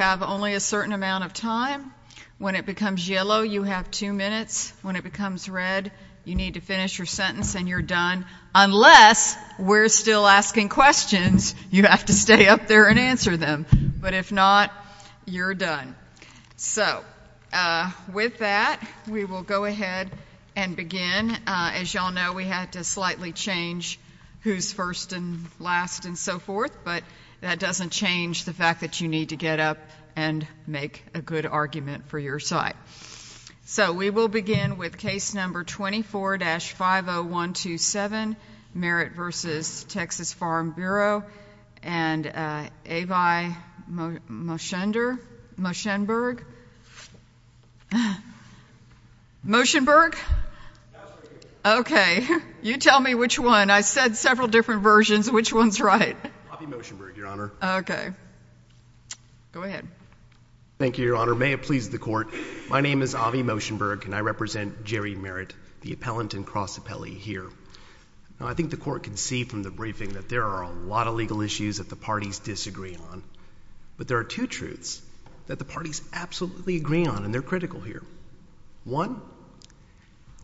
have only a certain amount of time. When it becomes yellow, you have two minutes. When it becomes red, you need to finish your sentence and you're done. Unless we're still asking questions, you have to stay up there and answer them. But if not, you're done. So, with that, we will go ahead and begin. As you all know, we had to slightly change who's first and last and so forth, but that doesn't change the fact that you need to get up and make a good argument for your side. So, we will begin with case number 24-50127, Merritt v. Texas Farm Bureau, and Avi Moshenberg. Moshenberg? Okay. You tell me which one. I said several different versions. Which one's right? Avi Moshenberg, Your Honor. Okay. Go ahead. Thank you, Your Honor. May it please the Court. My name is Avi Moshenberg, and I represent Jerry Merritt, the appellant and cross appellee here. Now, I think the Court can see from the briefing that there are a lot of legal issues that the parties disagree on, but there are two truths that the parties absolutely agree on, and they're critical here. One,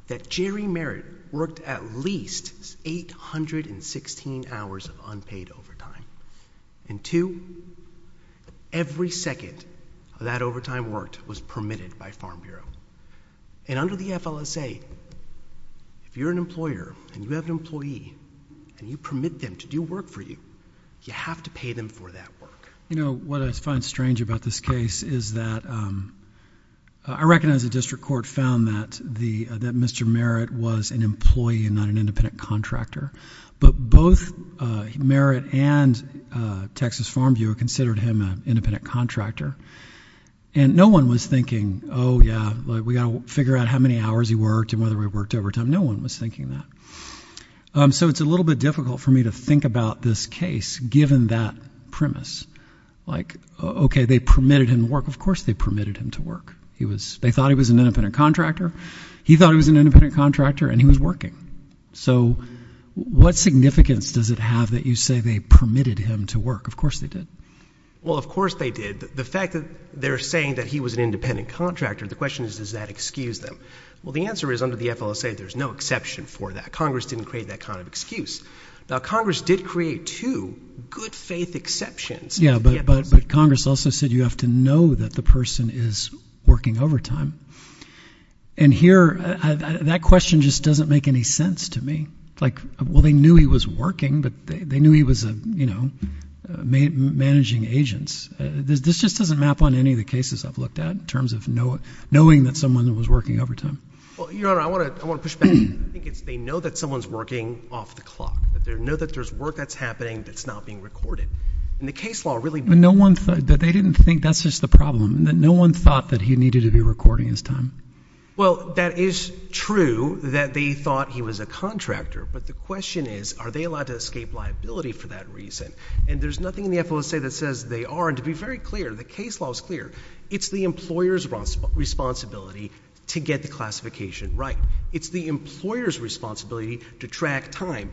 that Jerry Merritt worked at least 816 hours of unpaid overtime, and two, every second of that overtime worked was permitted by Farm Bureau. And under the FLSA, if you're an employer and you have an employee and you permit them to do work for you, you have to pay them for that work. You know, what I find strange about this case is that I recognize the District Court found that Mr. Merritt was an employee and not an independent contractor, but both Merritt and Texas Farm Bureau considered him an independent contractor, and no one was thinking, oh, yeah, we've got to figure out how many hours he worked and whether he worked overtime. No one was thinking that. So it's a little bit difficult for me to think about this case, given that premise. Like, okay, they permitted him to work. Of course they permitted him to work. They thought he was an independent contractor. He thought he was an independent contractor, and he was working. So what significance does it have that you say they permitted him to work? Of course they did. Well, of course they did. The fact that they're saying that he was an independent contractor, the question is, does that excuse them? Well, the answer is, under the FLSA, there's no exception for that. Congress didn't create that kind of excuse. Now, Congress did create two good-faith exceptions. Yeah, but Congress also said you have to know that the person is working overtime. And here, that question just doesn't make any sense to me. Like, well, they knew he was working, but they knew he was, you know, managing agents. This just doesn't map on any of the cases I've looked at, in terms of knowing that someone was working overtime. Well, Your Honor, I want to push back. I think it's they know that someone's working off the clock, that they know that there's work that's happening that's not being recorded. And the case law really— But no one thought—they didn't think that's just the problem, that no one thought that he needed to be recording his time? Well, that is true, that they thought he was a contractor. But the question is, are they allowed to escape liability for that reason? And there's nothing in the FLSA that says they are. And to be very clear, the case law is clear. It's the employer's responsibility to get the classification right. It's the employer's responsibility to track time.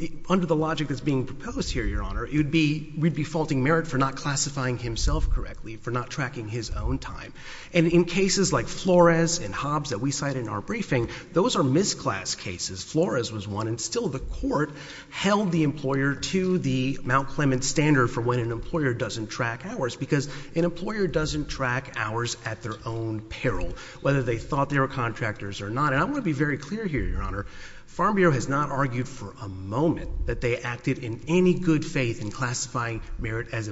And under the logic that's being proposed here, Your Honor, it would be—we'd be faulting merit for not classifying himself correctly, for not tracking his own time. And in cases like Flores and Hobbs that we cite in our briefing, those are misclass cases. Flores was one. And still, the court held the employer to the Mount Clements standard for when an employer doesn't track hours, because an employer doesn't track hours at their own peril, whether they thought they were contractors or not. And I want to be very clear here, Your Honor. Farm Bureau has not argued for a moment that they acted in any good faith in classifying merit as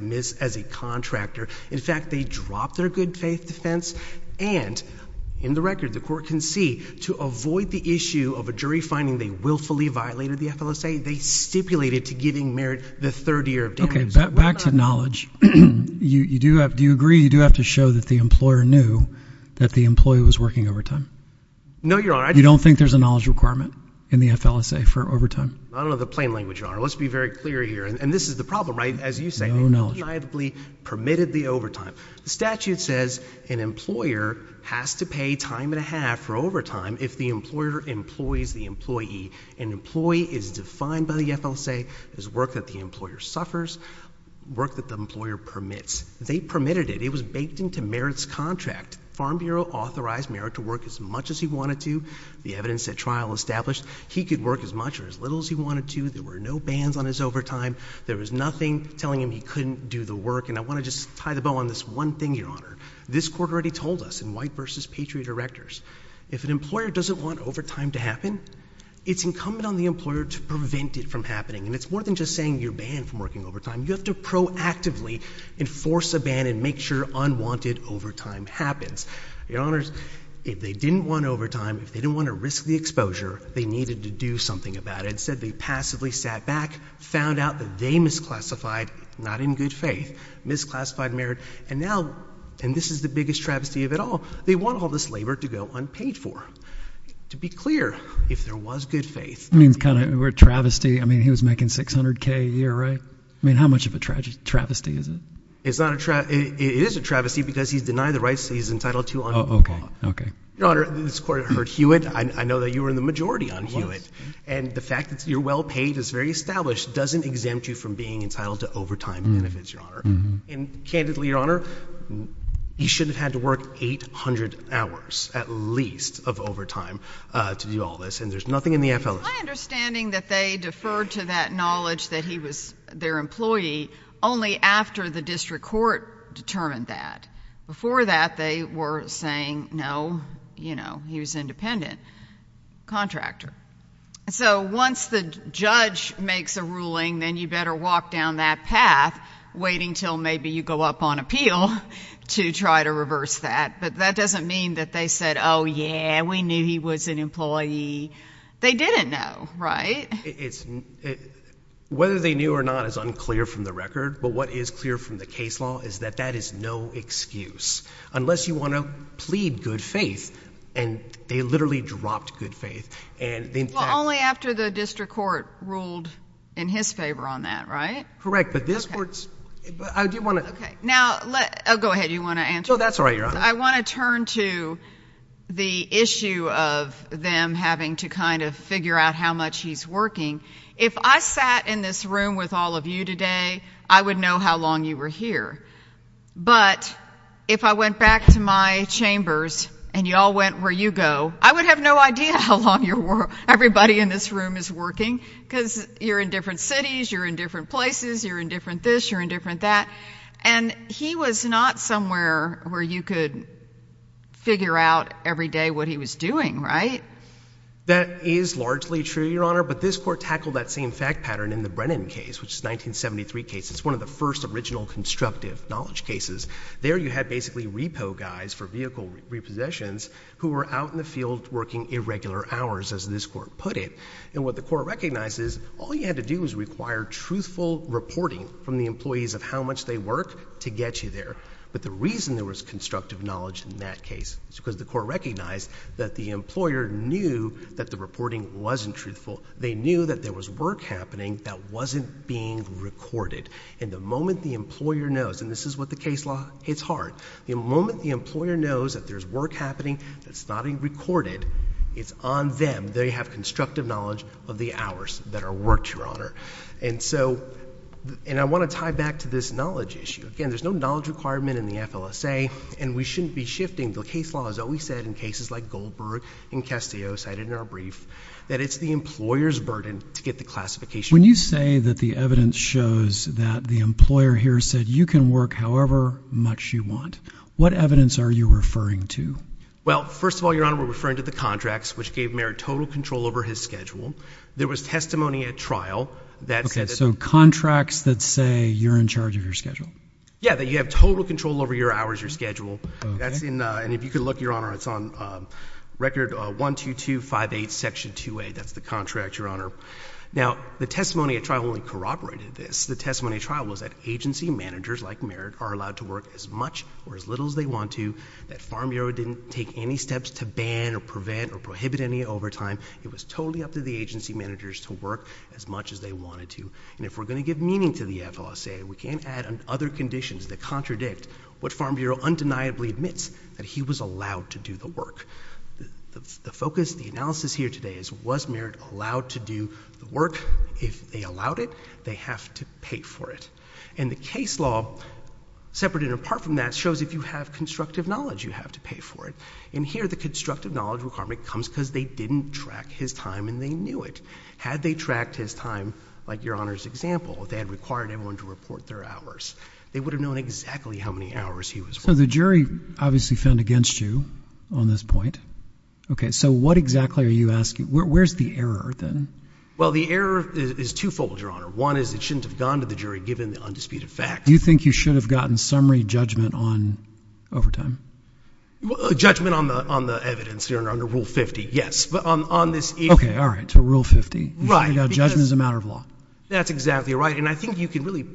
a contractor. In fact, they dropped their good faith defense. And in the record, the court can see, to avoid the issue of a jury finding they willfully violated the FLSA, they stipulated to giving merit the third year of damages. Okay. Back to knowledge. You do have—do you agree you do have to show that the employer knew that the employee was working overtime? No, Your Honor. You don't think there's a knowledge requirement in the FLSA for overtime? I don't know the plain language, Your Honor. Let's be very clear here. And this is the problem, right? As you say— No knowledge. —he reliably permitted the overtime. The statute says an employer has to pay time and a half for overtime if the employer employs the employee. An employee is defined by the FLSA as work that the employer suffers, work that the employer permits. They permitted it. It was baked into merit's contract. Farm Bureau authorized merit to work as much as he wanted to. The evidence at trial established he could work as much or as little as he wanted to. There were no bans on his overtime. There was nothing telling him he couldn't do the work. And I want to just tie the bow on this one thing, Your Honor. This Court already told us in White v. Patriot Erectors, if an employer doesn't want overtime to happen, it's incumbent on the employer to prevent it from happening. And it's more than just saying you're banned from working overtime. You have to proactively enforce a ban and make sure unwanted overtime happens. Your Honors, if they didn't want overtime, if they didn't want to risk the exposure, they needed to do something about it. Instead, they passively sat back, found out that they misclassified—not in good faith—misclassified merit. And now—and this is the biggest travesty of it all—they want all this labor to go unpaid for. To be clear, if there was good faith— That means kind of a travesty. I mean, he was making $600K a year, right? I mean, how much of a travesty is it? It's not a travesty—it is a travesty because he's denied the rights that he's entitled to on the law. Oh, okay. Your Honor, this Court heard Hewitt. I know that you were in the majority on Hewitt. And the fact that you're well-paid, it's very established, doesn't exempt you from being entitled to overtime benefits, Your Honor. And candidly, Your Honor, he should have had to work 800 hours at least of overtime to do all this. And there's nothing in the FLSA— It's my understanding that they deferred to that knowledge that he was their employee only after the district court determined that. Before that, they were saying, no, you know, he was independent—contractor. So once the judge makes a ruling, then you better walk down that path, waiting until maybe you go up on appeal to try to reverse that. But that doesn't mean that they said, oh, yeah, we knew he was an employee. They didn't know, right? Whether they knew or not is unclear from the record. But what is clear from the case law is that that is no excuse, unless you want to plead good faith. And they literally dropped good faith. Well, only after the district court ruled in his favor on that, right? Correct. But this Court's—I do want to— Okay. Now, let—oh, go ahead. You want to answer? No, that's all right, Your Honor. I want to turn to the issue of them having to kind of figure out how much he's working. If I sat in this room with all of you today, I would know how long you were here. But if I went back to my chambers and y'all went where you go, I would have no idea how long everybody in this room is working, because you're in different cities, you're in different places, you're in different this, you're in different that. And he was not somewhere where you could figure out every day what he was doing, right? That is largely true, Your Honor. But this Court tackled that same fact pattern in the Brennan case, which is a 1973 case. It's one of the first original constructive knowledge cases. There, you had basically repo guys for vehicle repossessions who were out in the field working irregular hours, as this Court put it. And what the Court recognizes, all you had to do was require truthful reporting from the employees of how much they work to get you there. But the reason there was constructive knowledge in that case is because the Court recognized that the employer knew that the reporting wasn't truthful. They knew that there was work happening that wasn't being recorded. And the moment the employer knows—and this is what the case law hits hard—the moment the employer knows that there's work happening that's not being recorded, it's on them. They have constructive knowledge of the hours that are worked, Your Honor. And so—and I want to tie back to this knowledge issue. Again, there's no knowledge requirement in the FLSA, and we shouldn't be shifting. The case law has always said, in cases like Goldberg and Castillo, cited in our brief, that it's the employer's burden to get the classification right. When you say that the evidence shows that the employer here said, you can work however much you want, what evidence are you referring to? Well, first of all, Your Honor, we're referring to the contracts, which gave Merritt total control over his schedule. There was testimony at trial that said— Okay, so contracts that say you're in charge of your schedule. Yeah, that you have total control over your hours, your schedule. That's in—and if you could look, Your Honor, it's on Record 12258, Section 2A. That's the contract, Your Honor. Now, the testimony at trial only corroborated this. The testimony at trial was that agency managers like Merritt are allowed to work as much or as little as they want to, that the Farm Bureau didn't take any steps to ban or prevent or prohibit any overtime. It was totally up to the agency managers to work as much as they wanted to. And if we're going to give meaning to the FLSA, we can't add other conditions that contradict what Farm Bureau undeniably admits, that he was allowed to do the work. The focus, the analysis here today is, was Merritt allowed to do the work? If they allowed it, they have to pay for it. And the case law, separate and apart from that, shows if you have constructive knowledge, you have to pay for it. And here, the constructive knowledge requirement comes because they didn't track his time and they knew it. Had they tracked his time, like Your Honor's example, they had required everyone to report their hours. They would have known exactly how many hours he was working. So the jury obviously found against you on this point. Okay. So what exactly are you asking? Where's the error, then? Well, the error is twofold, Your Honor. One is it shouldn't have gone to the jury, given the undisputed fact. Do you think you should have gotten summary judgment on overtime? Judgment on the evidence, Your Honor, under Rule 50, yes. But on this area— Okay. All right. So Rule 50, you should have gotten judgment as a matter of law. That's exactly right. And I think you can really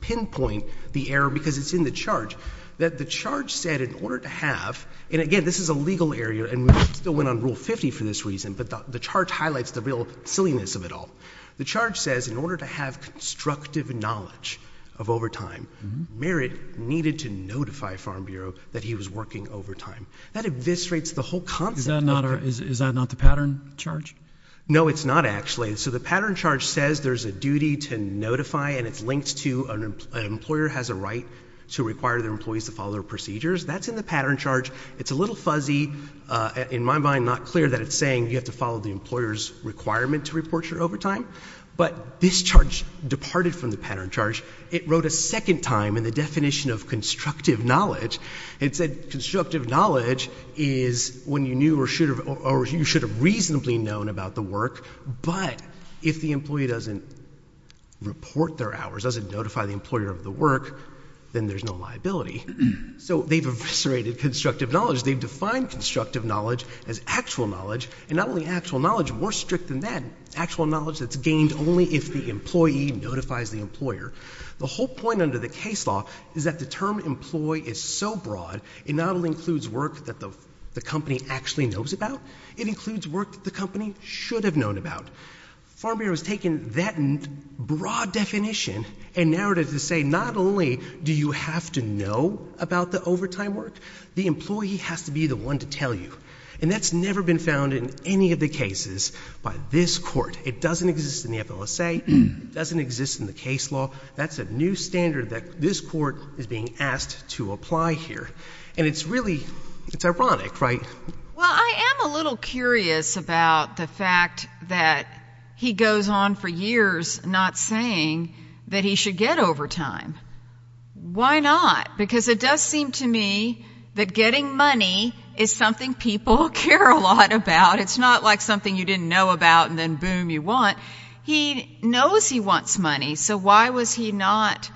pinpoint the error, because it's in the charge, that the charge said, in order to have—and again, this is a legal area and we still went on Rule 50 for this reason, but the charge highlights the real silliness of it all. The charge says, in order to have constructive knowledge of overtime, Merritt needed to notify Farm Bureau that he was working overtime. That eviscerates the whole concept. Is that not the pattern charge? No, it's not, actually. So the pattern charge says there's a duty to notify and it's linked to an employer has a right to require their employees to follow their procedures. That's in the pattern charge. It's a little fuzzy, in my mind, not clear that it's saying you have to follow the employer's requirement to report your overtime, but this charge departed from the pattern charge. It wrote a second time in the definition of constructive knowledge. It said constructive knowledge is when you knew or should have—or you should have reasonably known about the work, but if the employee doesn't report their hours, doesn't notify the employer of the work, then there's no liability. So they've eviscerated constructive knowledge. They've defined constructive knowledge as actual knowledge, and not only actual knowledge, more strict than that, actual knowledge that's gained only if the employee notifies the employer. The whole point under the case law is that the term employee is so broad, it not only includes work that the company actually knows about, it includes work that the company should have known about. Farm Bureau has taken that broad definition and narrowed it to say not only do you have to know about the overtime work, the employee has to be the one to tell you, and that's never been found in any of the cases by this Court. It doesn't exist in the FLSA. It doesn't exist in the case law. That's a new standard that this Court is being asked to apply here, and it's really—it's ironic, right? Well, I am a little curious about the fact that he goes on for years not saying that he should get overtime. Why not? Because it does seem to me that getting money is something people care a lot about. It's not like something you didn't know about and then boom, you want. He knows he wants money, so why was he not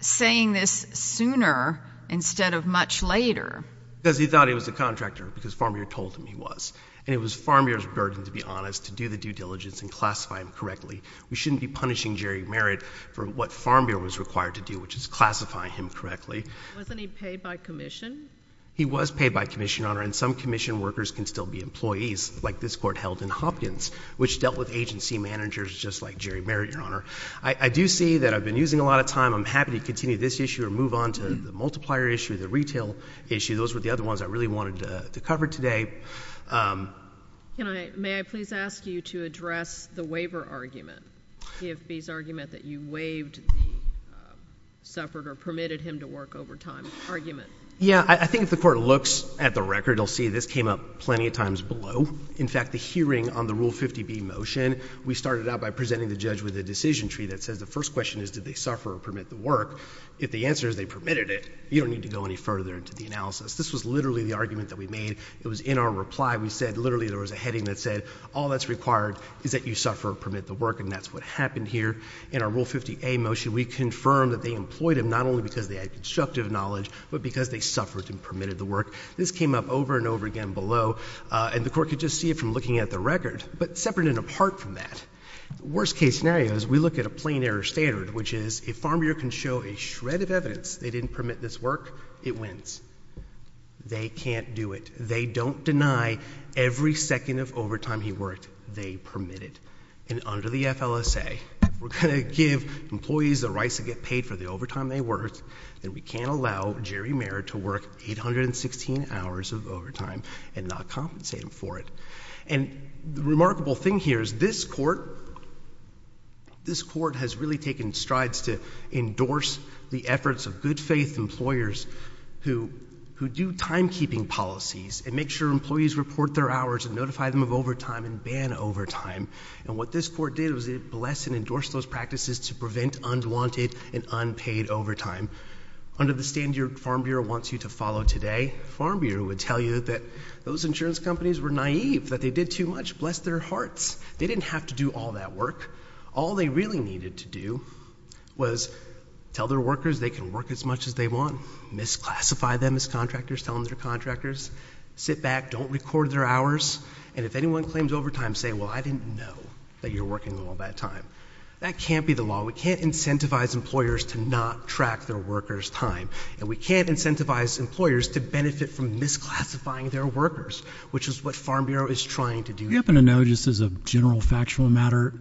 saying this sooner instead of much later? Because he thought he was the contractor, because Farm Bureau told him he was. And it was Farm Bureau's burden, to be honest, to do the due diligence and classify him correctly. We shouldn't be punishing Jerry Merritt for what Farm Bureau was required to do, which is classify him correctly. Wasn't he paid by commission? He was paid by commission, Your Honor, and some commission workers can still be employees, like this Court held in Hopkins, which dealt with agency managers just like Jerry Merritt, Your Honor. I do see that I've been using a lot of time. I'm happy to continue this issue or move on to the multiplier issue, the retail issue. Those were the other ones I really wanted to cover today. May I please ask you to address the waiver argument, EFB's argument that you waived the suffered or permitted him to work overtime argument? Yeah. I think if the Court looks at the record, you'll see this came up plenty of times below. In fact, the hearing on the Rule 50B motion, we started out by presenting the judge with a decision tree that says the first question is, did they suffer or permit the work? If the answer is they permitted it, you don't need to go any further into the analysis. This was literally the argument that we made. It was in our reply. We said literally there was a heading that said, all that's required is that you suffer or permit the work, and that's what happened here. In our Rule 50A motion, we confirmed that they employed him not only because they had constructive knowledge, but because they suffered and permitted the work. This came up over and over again below, and the Court could just see it from looking at the record, but separate and apart from that, the worst case scenario is we look at a plain error standard, which is if a farmer can show a shred of evidence they didn't permit this work, it wins. They can't do it. They don't deny every second of overtime he worked, they permit it. Under the FLSA, we're going to give employees the rights to get paid for the overtime they worked, and we can't allow Jerry Mayer to work 816 hours of overtime and not compensate him for it. The remarkable thing here is this Court has really taken strides to endorse the efforts of good-faith employers who do timekeeping policies and make sure employees report their hours and notify them of overtime and ban overtime, and what this Court did was it blessed and endorsed those practices to prevent unwanted and unpaid overtime. Under the standard Farm Bureau wants you to follow today, Farm Bureau would tell you that those insurance companies were naive, that they did too much. Bless their hearts. They didn't have to do all that work. All they really needed to do was tell their workers they can work as much as they want, misclassify them as contractors, tell them they're contractors, sit back, don't record their hours, and if anyone claims overtime, say, well, I didn't know that you were working all that time. That can't be the law. We can't incentivize employers to not track their workers' time, and we can't incentivize employers to benefit from misclassifying their workers, which is what Farm Bureau is trying to do. We happen to know, just as a general factual matter,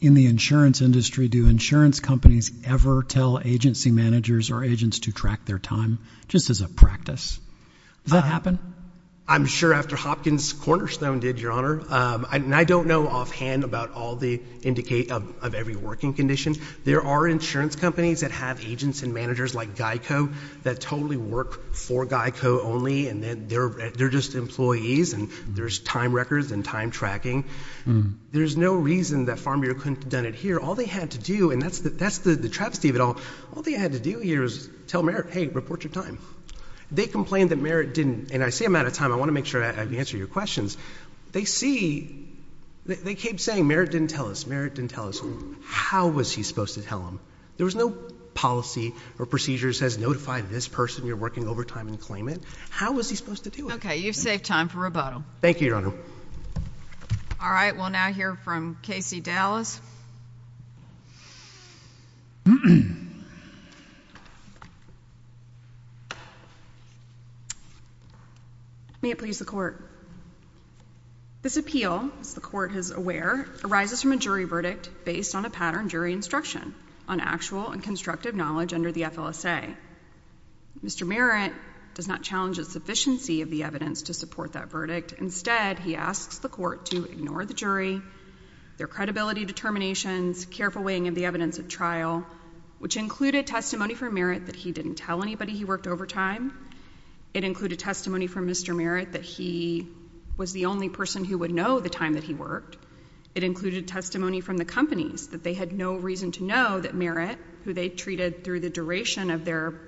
in the insurance industry, do insurance companies ever tell agency managers or agents to track their time, just as a practice? Does that happen? I'm sure after Hopkins Cornerstone did, Your Honor, and I don't know offhand about all the indicate of every working condition. There are insurance companies that have agents and managers like GEICO that totally work for GEICO only, and they're just employees, and there's time records and time tracking. There's no reason that Farm Bureau couldn't have done it here. All they had to do, and that's the travesty of it all, all they had to do here was tell Merritt, hey, report your time. They complained that Merritt didn't, and I see I'm out of time. I want to make sure I answer your questions. They see, they keep saying, Merritt didn't tell us. Merritt didn't tell us. How was he supposed to tell them? There was no policy or procedure that says notify this person you're working overtime and claim it. How was he supposed to do it? Okay. You've saved time for rebuttal. Thank you, Your Honor. All right. We'll now hear from Casey Dallas. May it please the Court. This appeal, as the Court is aware, arises from a jury verdict based on a pattern jury instruction on actual and constructive knowledge under the FLSA. Mr. Merritt does not challenge the sufficiency of the evidence to support that verdict. Instead, he asks the Court to ignore the jury, their credibility determinations, careful weighing of the evidence at trial, which included testimony from Merritt that he didn't tell anybody he worked overtime. It included testimony from Mr. Merritt that he was the only person who would know the time that he worked. It included testimony from the companies that they had no reason to know that Merritt, who they treated through the duration of their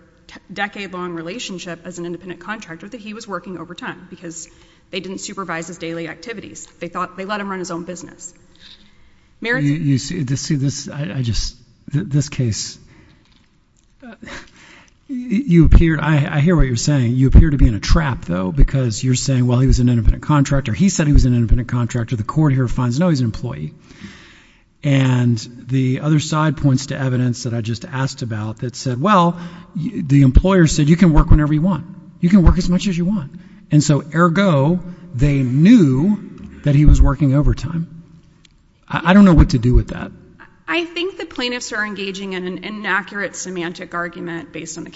decade-long relationship as an independent contractor, that he was working overtime because they didn't supervise his daily activities. They thought they let him run his own business. Merritt? You see, this case, I hear what you're saying. You appear to be in a trap, though, because you're saying, well, he was an independent contractor. He said he was an independent contractor. The Court here finds, no, he's an employee. And the other side points to evidence that I just asked about that said, well, the employer said you can work whenever you want. You can work as much as you want. And so, ergo, they knew that he was working overtime. I don't know what to do with that. I think the plaintiffs are engaging in an inaccurate semantic argument based on the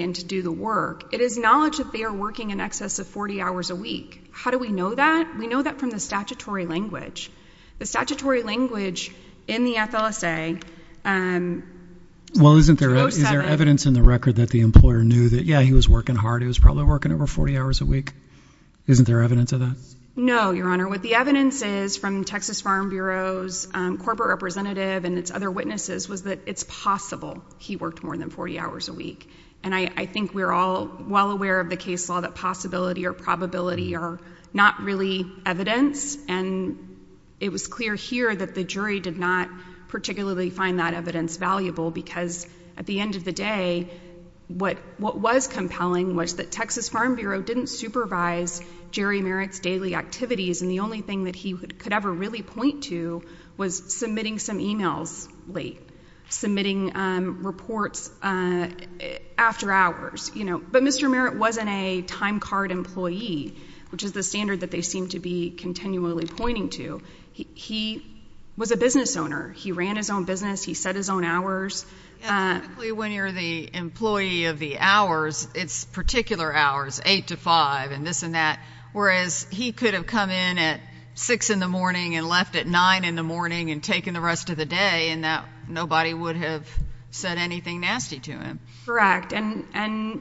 and to do the work. It is knowledge that they are working in excess of 40 hours a week. How do we know that? We know that from the statutory language. The statutory language in the FLSA, um, 2007— Well, isn't there evidence in the record that the employer knew that, yeah, he was working hard. He was probably working over 40 hours a week. Isn't there evidence of that? No, Your Honor. What the evidence is from Texas Farm Bureau's corporate representative and its other witnesses was that it's possible he worked more than 40 hours a week. And I think we're all well aware of the case law that possibility or probability are not really evidence. And it was clear here that the jury did not particularly find that evidence valuable because at the end of the day, what was compelling was that Texas Farm Bureau didn't supervise Jerry Merritt's daily activities. And the only thing that he could ever really point to was submitting some emails late, submitting reports after hours, you know. But Mr. Merritt wasn't a time card employee, which is the standard that they seem to be continually pointing to. He was a business owner. He ran his own business. He set his own hours. Yeah, typically when you're the employee of the hours, it's particular hours, 8 to 5 and this and that, whereas he could have come in at 6 in the morning and left at 9 in the morning and taken the rest of the day and nobody would have said anything nasty to him. Correct. And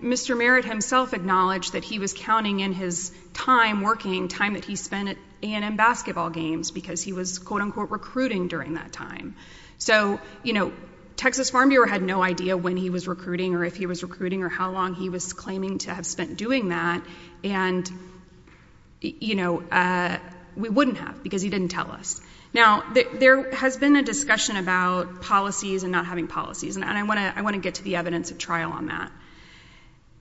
Mr. Merritt himself acknowledged that he was counting in his time working, time that he spent at A&M basketball games because he was, quote unquote, recruiting during that time. So, you know, Texas Farm Bureau had no idea when he was recruiting or if he was recruiting or how long he was claiming to have spent doing that. And, you know, we wouldn't have because he didn't tell us. Now, there has been a discussion about policies and not having policies. And I want to get to the evidence of trial on that.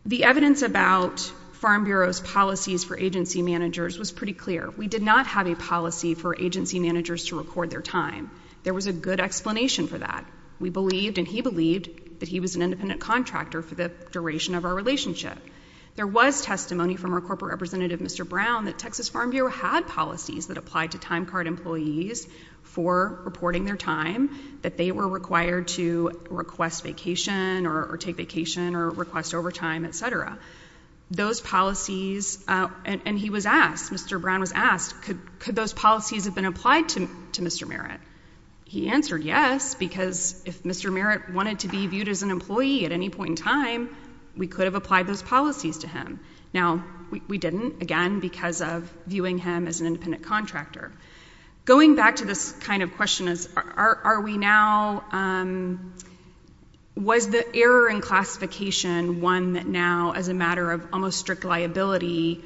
The evidence about Farm Bureau's policies for agency managers was pretty clear. We did not have a policy for agency managers to record their time. There was a good explanation for that. We believed and he believed that he was an independent contractor for the duration of our relationship. There was testimony from our corporate representative, Mr. Brown, that Texas Farm Bureau had policies that applied to time card employees for reporting their time, that they were required to request vacation or take vacation or request overtime, et cetera. Those policies, and he was asked, Mr. Brown was asked, could those policies have been applied? Because if Mr. Merritt wanted to be viewed as an employee at any point in time, we could have applied those policies to him. Now, we didn't, again, because of viewing him as an independent contractor. Going back to this kind of question, are we now, was the error in classification one that now, as a matter of almost strict liability,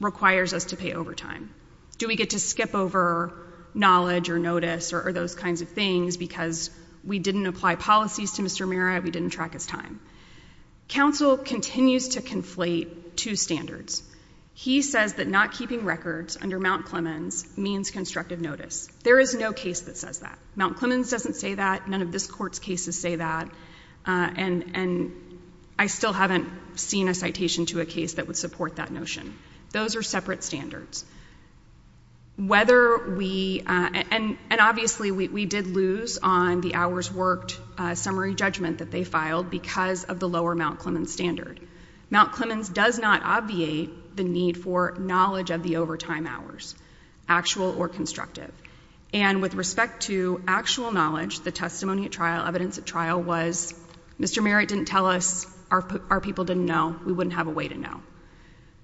requires us to pay overtime? Do we get to skip over knowledge or notice or those kinds of things because we didn't apply policies to Mr. Merritt, we didn't track his time? Counsel continues to conflate two standards. He says that not keeping records under Mount Clemens means constructive notice. There is no case that says that. Mount Clemens doesn't say that, none of this Court's cases say that, and I still haven't seen a citation to a case that would support that notion. Those are separate standards. Whether we, and obviously we did lose on the hours worked summary judgment that they filed because of the lower Mount Clemens standard. Mount Clemens does not obviate the need for knowledge of the overtime hours, actual or constructive. And with respect to actual knowledge, the testimony at trial, evidence at trial was, Mr. Merritt didn't tell us, our people didn't know, we wouldn't have a way to know.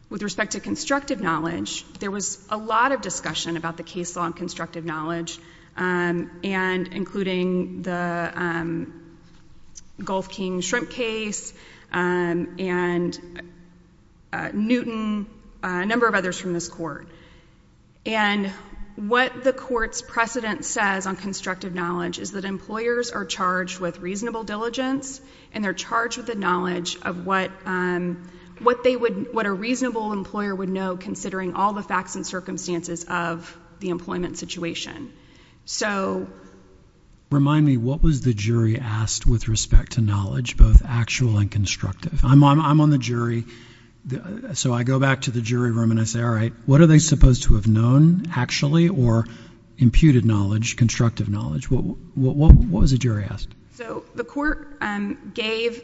With respect to constructive knowledge, there was a lot of discussion about the case law and constructive knowledge and including the Gulf King shrimp case and Newton, a number of others from this Court. And what the Court's precedent says on constructive knowledge is that employers are charged with reasonable diligence and they're charged with the knowledge of what they would, what a reasonable employer would know considering all the facts and circumstances of the employment situation. So. Remind me, what was the jury asked with respect to knowledge, both actual and constructive? I'm on the jury, so I go back to the jury room and I say, all right, what are they supposed to have known actually or imputed knowledge, constructive knowledge? What was the jury asked? So the Court gave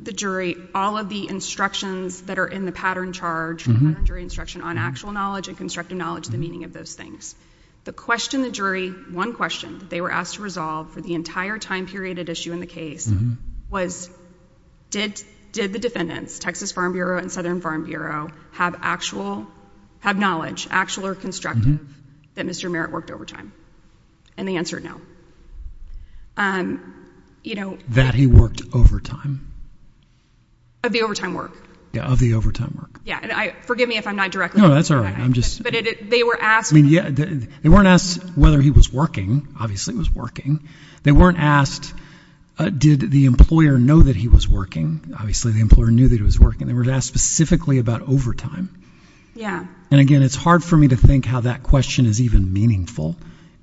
the jury all of the instructions that are in the pattern charge, the jury instruction on actual knowledge and constructive knowledge, the meaning of those things. The question the jury, one question that they were asked to resolve for the entire time period at issue in the case was, did, did the defendants, Texas Farm Bureau and Southern Farm Bureau have actual, have knowledge, actual or constructive, that Mr. Merritt worked overtime? And the answer, no. You know. That he worked overtime? Of the overtime work. Yeah, of the overtime work. Yeah, and I, forgive me if I'm not directly. No, that's all right. I'm just. But they were asked. I mean, yeah, they weren't asked whether he was working. Obviously, he was working. They weren't asked, did the employer know that he was working? Obviously, the employer knew that he was working. They were asked specifically about overtime. Yeah. And again, it's hard for me to think how that question is even meaningful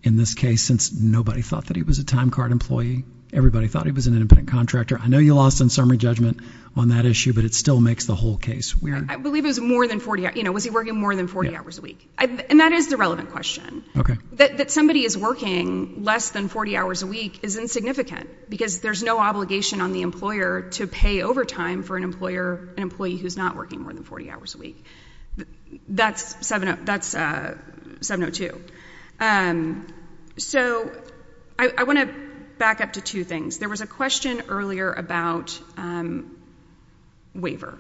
in this case, since nobody thought that he was a time card employee. Everybody thought he was an independent contractor. I know you lost on summary judgment on that issue, but it still makes the whole case weird. I believe it was more than 40, you know, was he working more than 40 hours a week? And that is the relevant question. Okay. That somebody is working less than 40 hours a week is insignificant, because there's no obligation on the employer to pay overtime for an employer, an employee who's not working more than 40 hours a week. That's 702. So, I want to back up to two things. There was a question earlier about waiver,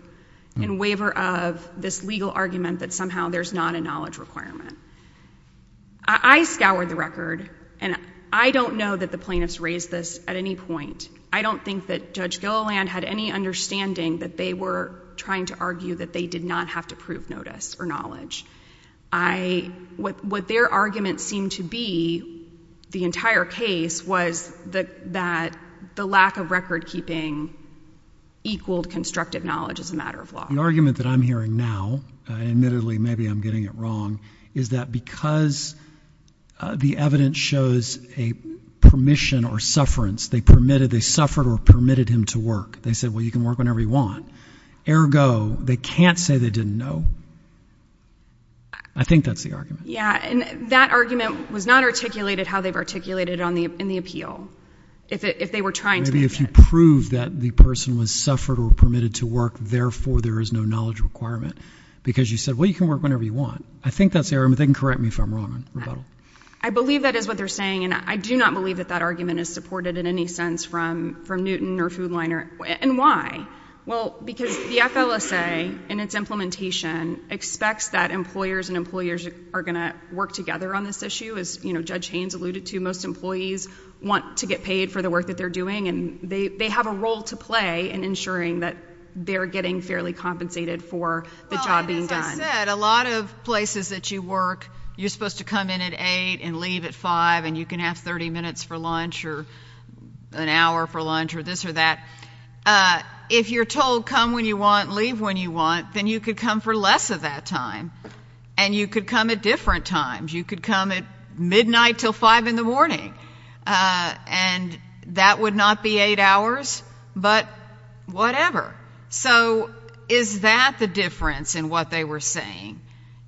and waiver of this legal argument that somehow there's not a knowledge requirement. I scoured the record, and I don't know that the plaintiffs raised this at any point. I don't think that Judge Gilliland had any understanding that they were trying to argue that they did not have to prove notice or knowledge. What their argument seemed to be, the entire case, was that the lack of record keeping equaled constructive knowledge as a matter of law. The argument that I'm hearing now, admittedly, maybe I'm getting it wrong, is that because the evidence shows a permission or sufferance, they permitted, they suffered or permitted him to work. They said, well, you can work whenever you want. Ergo, they can't say they didn't know. I think that's the argument. Yeah, and that argument was not articulated how they've articulated it in the appeal, if they were trying to. Maybe if you prove that the person was suffered or permitted to work, therefore there is no knowledge requirement. Because you said, well, you can work whenever you want. I think that's the argument. They can correct me if I'm wrong. I believe that is what they're saying, and I do not believe that that argument is supported in any sense from Newton or Food Liner. And why? Well, because the FLSA, in its implementation, expects that employers and employers are going to work together on this issue. As Judge Haynes alluded to, most employees want to get paid for the work that they're doing, and they have a role to play in ensuring that they're getting fairly compensated for the job being done. Well, and as I said, a lot of places that you work, you're supposed to come in at 8 and leave at 5, and you can have 30 minutes for lunch or an hour for lunch or this or that. If you're told come when you want, leave when you want, then you could come for less of that time, and you could come at different times. You could come at midnight until 5 in the morning, and that would not be 8 hours, but whatever. So is that the difference in what they were saying?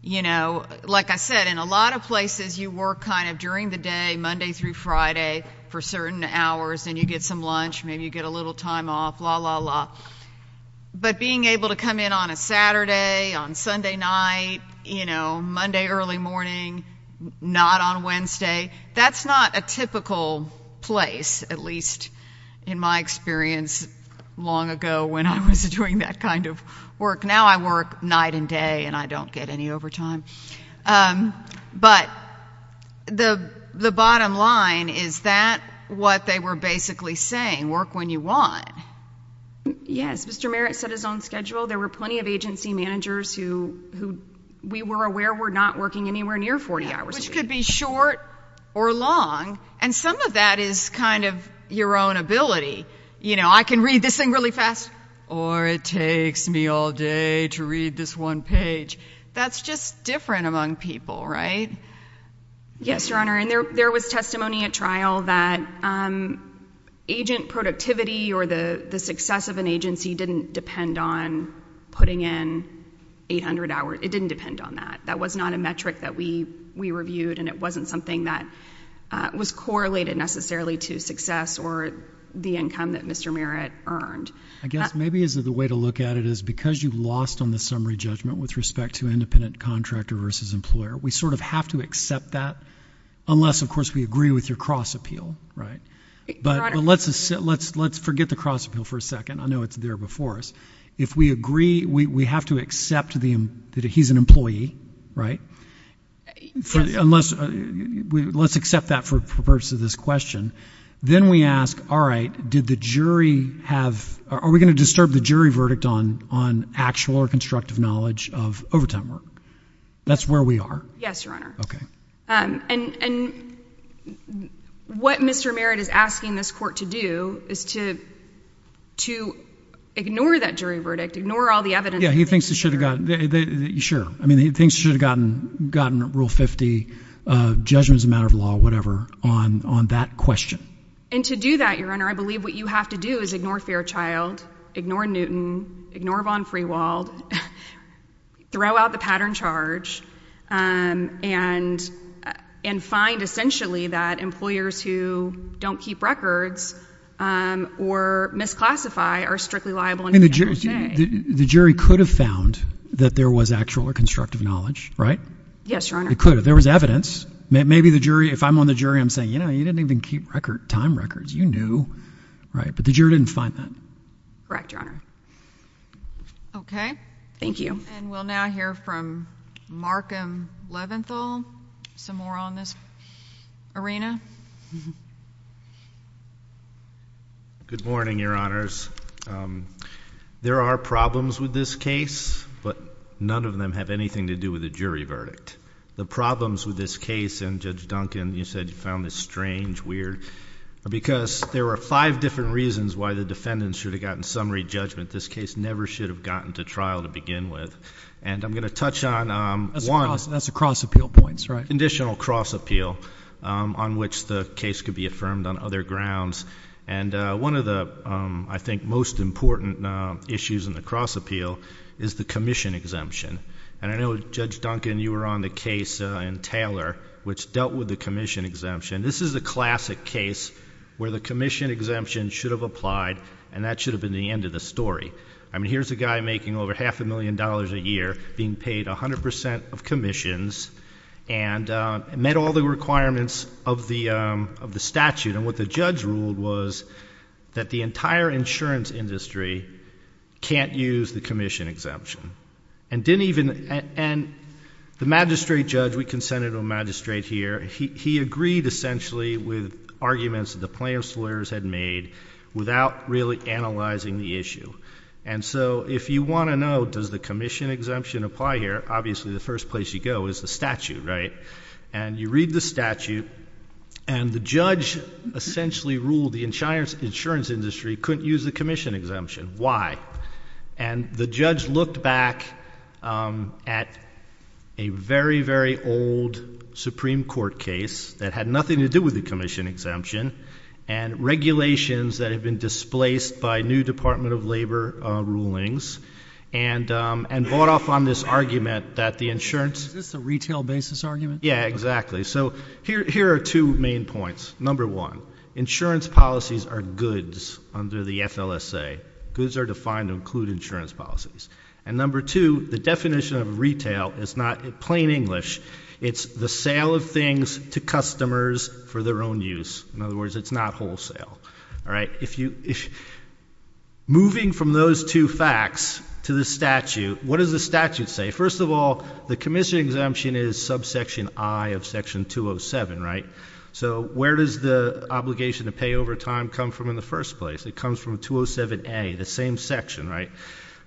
You know, like I said, in a lot of places you work kind of during the day, Monday through Friday, for certain hours, and you get some lunch, maybe you get a little time off, la, la, la. But being able to come in on a Saturday, on Sunday night, you know, Monday early morning, not on Wednesday, that's not a typical place, at least in my experience long ago when I was doing that kind of work. Now I work night and day, and I don't get any overtime. But the bottom line, is that what they were basically saying? Work when you want? Yes. Mr. Merritt set his own schedule. There were plenty of agency managers who we were aware were not working anywhere near 40 hours a week. Which could be short or long, and some of that is kind of your own ability. You know, I can read this thing really fast, or it takes me all day to read this one page. That's just different among people, right? Yes, Your Honor, and there was testimony at trial that agent productivity or the success of an agency didn't depend on putting in 800 hours. It didn't depend on that. That was not a metric that we reviewed, and it wasn't something that was correlated necessarily to success or the income that Mr. Merritt earned. I guess maybe the way to look at it is because you lost on the summary judgment with respect to independent contractor versus employer, we sort of have to accept that unless, of course, we agree with your cross appeal, right? Your Honor. But let's forget the cross appeal for a second. I know it's there before us. If we agree, we have to accept that he's an employee, right? Yes. Unless, let's accept that for the purpose of this question. Then we ask, all right, did the jury have, are we going to disturb the jury verdict on actual or constructive knowledge of overtime work? That's where we are. Yes, Your Honor. Okay. And what Mr. Merritt is asking this court to do is to ignore that jury verdict, ignore all the evidence. Yeah, he thinks it should have gotten, sure. I mean, he thinks it should have gotten Rule 50, judgment is a matter of law, whatever, on that question. And to do that, Your Honor, I believe what you have to do is ignore Fairchild, ignore Vaughn-Newton, ignore Vaughn-Freewald, throw out the pattern charge, and find essentially that employers who don't keep records or misclassify are strictly liable in the end of the day. The jury could have found that there was actual or constructive knowledge, right? Yes, Your Honor. It could have. There was evidence. Maybe the jury, if I'm on the jury, I'm saying, you know, you didn't even keep record, time records. You knew, right? But the jury didn't find that. Correct, Your Honor. Okay. Thank you. And we'll now hear from Markham Leventhal, some more on this arena. Good morning, Your Honors. There are problems with this case, but none of them have anything to do with the jury verdict. The problems with this case, and Judge Duncan, you said you found this strange, weird, because there were five different reasons why the defendants should have gotten summary judgment. This case never should have gotten to trial to begin with. And I'm going to touch on one. That's the cross-appeal points, right? Conditional cross-appeal, on which the case could be affirmed on other grounds. And one of the, I think, most important issues in the cross-appeal is the commission exemption. And I know, Judge Duncan, you were on the case in Taylor, which dealt with the commission exemption. This is a classic case where the commission exemption should have applied, and that should have been the end of the story. I mean, here's a guy making over half a million dollars a year, being paid 100 percent of commissions, and met all the requirements of the statute. And what the judge ruled was that the entire insurance industry can't use the commission exemption. And the magistrate judge, we consented to a magistrate here, he agreed, essentially, with arguments that the plaintiff's lawyers had made, without really analyzing the issue. And so, if you want to know, does the commission exemption apply here, obviously the first place you go is the statute, right? And you read the statute, and the judge essentially ruled the insurance industry couldn't use the commission exemption. Why? And the judge looked back at a very, very old Supreme Court case that had nothing to do with the commission exemption, and regulations that had been displaced by new Department of Labor rulings, and bought off on this argument that the insurance— Is this a retail basis argument? Yeah, exactly. So, here are two main points. Number one, insurance policies are goods under the FLSA. Goods are defined to include insurance policies. And number two, the definition of retail is not plain English. It's the sale of things to customers for their own use. In other words, it's not wholesale. All right? Moving from those two facts to the statute, what does the statute say? First of all, the commission exemption is subsection I of section 207, right? So, where does the obligation to pay over time come from in the first place? It comes from 207A, the same section, right?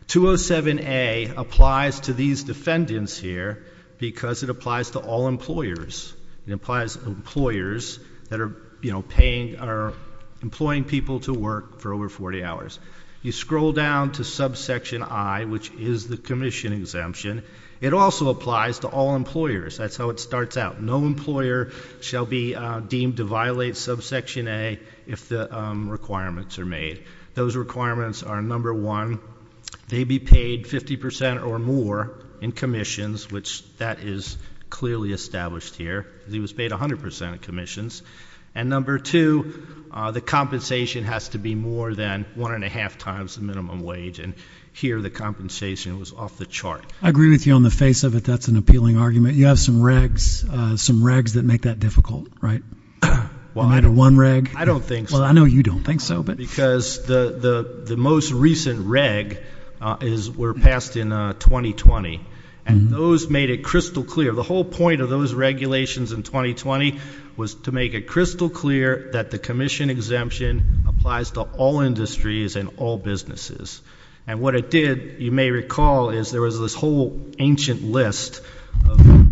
207A applies to these defendants here because it applies to all employers. It applies to employers that are, you know, paying—are employing people to work for over 40 hours. You scroll down to subsection I, which is the commission exemption. It also applies to all employers. That's how it starts out. No employer shall be deemed to violate subsection A if the requirements are made. Those requirements are, number one, they be paid 50 percent or more in commissions, which that is clearly established here. He was paid 100 percent of commissions. And number two, the compensation has to be more than one and a half times the minimum wage. And here, the compensation was off the chart. I agree with you on the face of it. That's an appealing argument. You have some regs—some regs that make that difficult, right? Am I to one reg? I don't think so. Well, I know you don't think so, but— Because the most recent reg is—were passed in 2020, and those made it crystal clear. The whole point of those regulations in 2020 was to make it crystal clear that the commission exemption applies to all industries and all businesses. And what it did, you may recall, is there was this whole ancient list of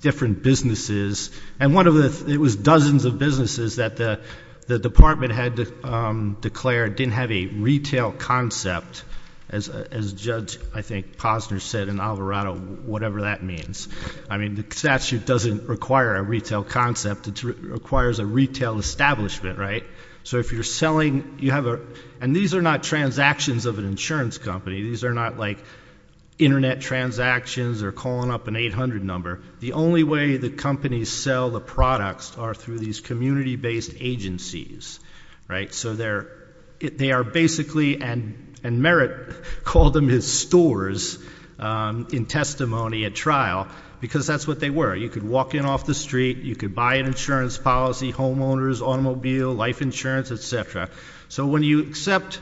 different businesses. And one of the—it was dozens of businesses that the department had declared didn't have a retail concept, as Judge, I think, Posner said in Alvarado, whatever that means. I mean, the statute doesn't require a retail concept. It requires a retail establishment, right? So if you're selling—you have a—and these are not transactions of an insurance company. These are not, like, internet transactions or calling up an 800 number. The only way that companies sell the products are through these community-based agencies, right? So they are basically—and Merritt called them his stores in testimony at trial, because that's what they were. You could walk in off the street. You could buy an insurance policy, homeowners, automobile, life insurance, et cetera. So when you accept,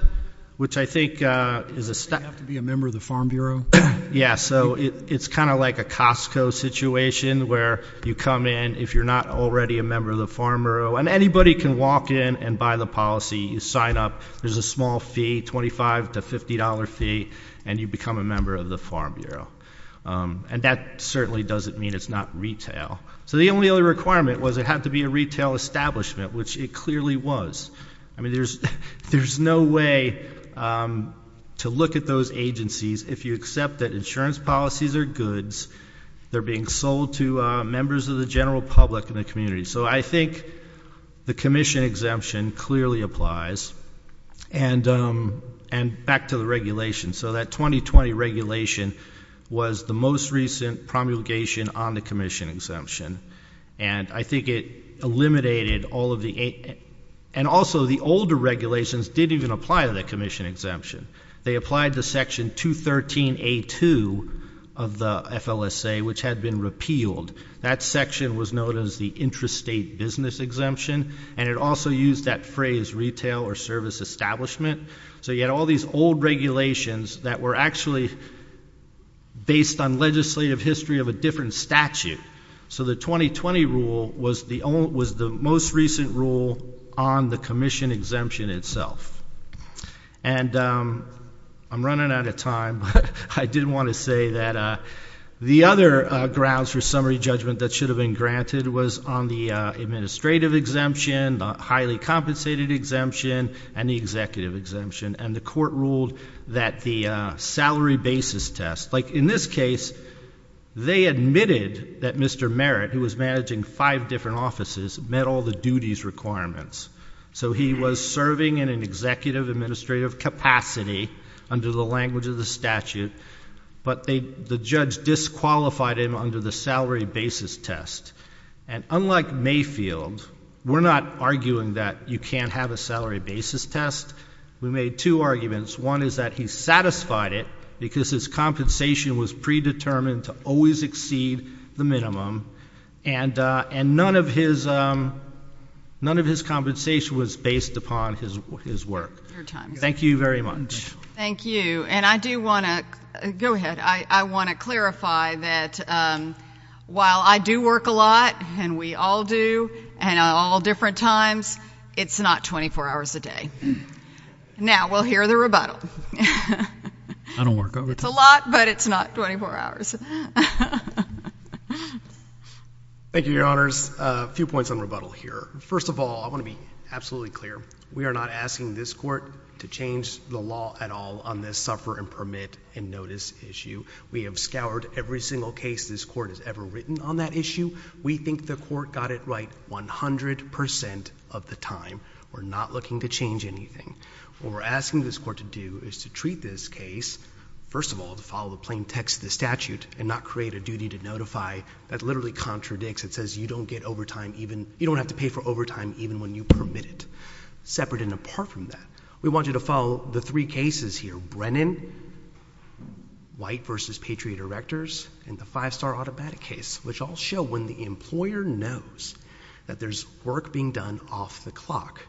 which I think is a— Do you have to be a member of the Farm Bureau? Yeah. So it's kind of like a Costco situation where you come in. If you're not already a member of the Farm Bureau—and anybody can walk in and buy the policy. You sign up. There's a small fee, $25 to $50 fee, and you become a member of the Farm Bureau. And that certainly doesn't mean it's not retail. So the only other requirement was it had to be a retail establishment, which it clearly was. I mean, there's no way to look at those agencies if you accept that insurance policies are goods. They're being sold to members of the general public in the community. So I think the commission exemption clearly applies. And back to the regulations. So that 2020 regulation was the most recent promulgation on the commission exemption. And I think it eliminated all of the—and also the older regulations didn't even apply to the commission exemption. They applied to Section 213A2 of the FLSA, which had been repealed. That section was known as the intrastate business exemption, and it also used that phrase, retail or service establishment. So you had all these old regulations that were actually based on legislative history of a different statute. So the 2020 rule was the most recent rule on the commission exemption itself. And I'm running out of time, but I did want to say that the other grounds for summary judgment that should have been granted was on the administrative exemption, the highly compensated exemption, and the executive exemption. And the court ruled that the salary basis test—like, in this case, they admitted that Mr. Merritt, who was managing five different offices, met all the duties requirements. So he was serving in an executive administrative capacity under the language of the statute, but the judge disqualified him under the salary basis test. And unlike Mayfield, we're not arguing that you can't have a salary basis test. We made two arguments. One is that he satisfied it because his compensation was predetermined to always exceed the minimum, and none of his compensation was based upon his work. Your time is up. Thank you very much. Thank you. And I do want to—go ahead. I want to clarify that while I do work a lot, and we all do, and at all different times, it's not 24 hours a day. Now, we'll hear the rebuttal. I don't work overtime. It's a lot, but it's not 24 hours. Thank you, Your Honors. A few points on rebuttal here. First of all, I want to be absolutely clear. We are not asking this Court to change the law at all on this suffer and permit and notice issue. We have scoured every single case this Court has ever written on that issue. We think the Court got it right 100% of the time. We're not looking to change anything. What we're asking this Court to do is to treat this case, first of all, to follow the plain text of the statute and not create a duty to notify that literally contradicts. It says you don't get overtime even—you don't have to pay for overtime even when you permit it, separate and apart from that. We want you to follow the three cases here—Brennan, White v. Patriot Erectors, and the five-star automatic case, which all show when the employer knows that there's work being done off the clock,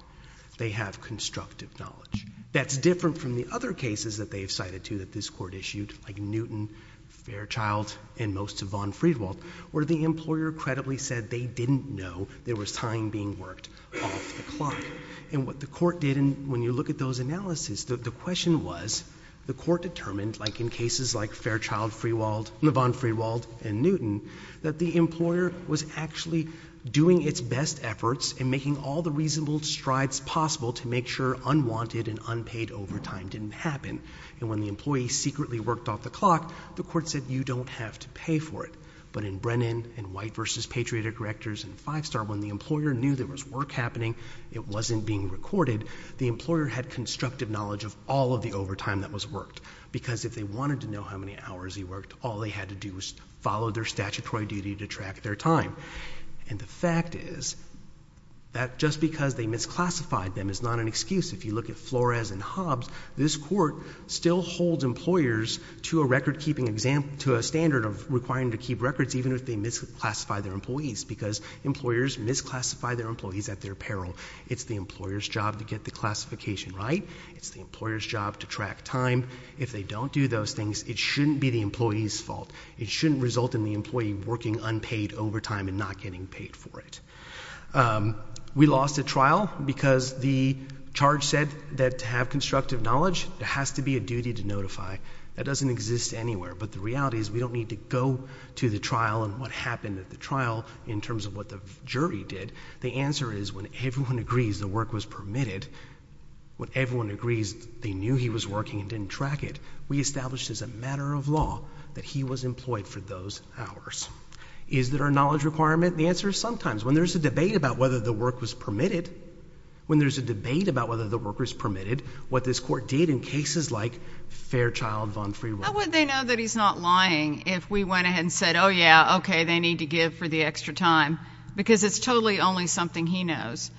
they have constructive knowledge. That's different from the other cases that they have cited, too, that this Court issued like Newton, Fairchild, and most of von Friedwald, where the employer credibly said they didn't know there was time being worked off the clock. And what the Court did—and when you look at those analyses, the question was, the Court determined, like in cases like Fairchild-Friedwald, von Friedwald, and Newton, that the employer was actually doing its best efforts and making all the reasonable strides possible to make sure unwanted and unpaid overtime didn't happen. And when the employee secretly worked off the clock, the Court said, you don't have to pay for it. But in Brennan and White v. Patriot Erectors and five-star, when the employer knew there was work happening, it wasn't being recorded, the employer had constructive knowledge of all of the overtime that was worked. Because if they wanted to know how many hours he worked, all they had to do was follow their statutory duty to track their time. And the fact is that just because they misclassified them is not an excuse. If you look at Flores and Hobbs, this Court still holds employers to a standard of requiring to keep records even if they misclassify their employees. Because employers misclassify their employees at their peril. It's the employer's job to get the classification right. It's the employer's job to track time. If they don't do those things, it shouldn't be the employee's fault. It shouldn't result in the employee working unpaid overtime and not getting paid for it. We lost a trial because the charge said that to have constructive knowledge, there has to be a duty to notify. That doesn't exist anywhere. But the reality is we don't need to go to the trial and what happened at the trial in terms of what the jury did. The answer is when everyone agrees the work was permitted, when everyone agrees they knew he was working and didn't track it, we established as a matter of law that he was employed for those hours. Is there a knowledge requirement? The answer is sometimes. When there's a debate about whether the work was permitted, when there's a debate about whether the work was permitted, what this Court did in cases like Fairchild-Von Friere... How would they know that he's not lying if we went ahead and said, oh, yeah, okay, they need to give for the extra time? Because it's totally only something he knows.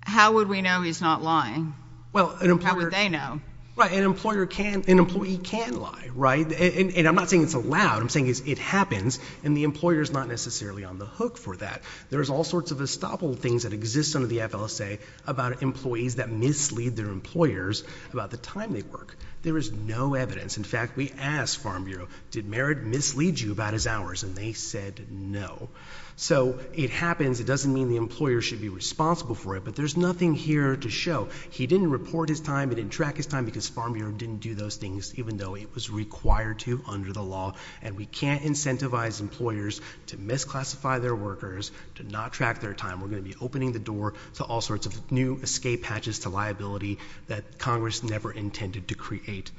How would we know he's not lying? Well, an employer... How would they know? Right. An employer can... an employee can lie. Right? And I'm not saying it's allowed. What I'm saying is it happens, and the employer's not necessarily on the hook for that. There's all sorts of estoppel things that exist under the FLSA about employees that mislead their employers about the time they work. There is no evidence. In fact, we asked Farm Bureau, did Merritt mislead you about his hours, and they said no. So it happens. It doesn't mean the employer should be responsible for it, but there's nothing here to show. He didn't report his time, he didn't track his time because Farm Bureau didn't do those things, even though it was required to under the law, and we can't incentivize employers to misclassify their workers, to not track their time. We're going to be opening the door to all sorts of new escape hatches to liability that Congress never intended to create.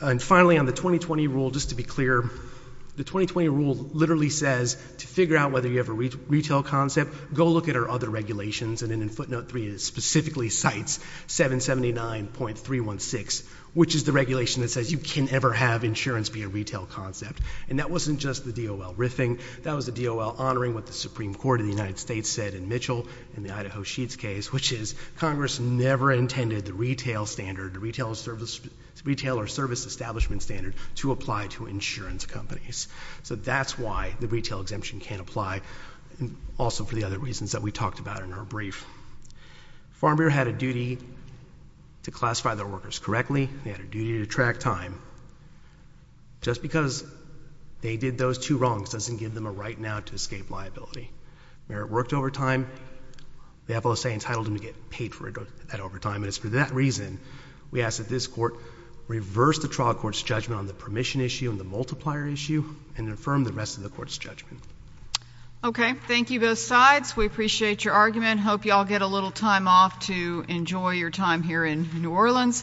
And finally, on the 2020 rule, just to be clear, the 2020 rule literally says to figure out whether you have a retail concept, go look at our other regulations, and then in ever have insurance be a retail concept. And that wasn't just the DOL riffing, that was the DOL honoring what the Supreme Court of the United States said in Mitchell, in the Idaho Sheets case, which is Congress never intended the retail standard, the retail or service establishment standard, to apply to insurance companies. So that's why the retail exemption can't apply, and also for the other reasons that we talked about in our brief. Farm Bureau had a duty to classify their workers correctly. They had a duty to track time. Just because they did those two wrongs doesn't give them a right now to escape liability. Merit worked overtime, the FLSA entitled them to get paid for that overtime, and it's for that reason we ask that this court reverse the trial court's judgment on the permission issue and the multiplier issue and affirm the rest of the court's judgment. Okay. Thank you, both sides. We appreciate your argument. Hope you all get a little time off to enjoy your time here in New Orleans.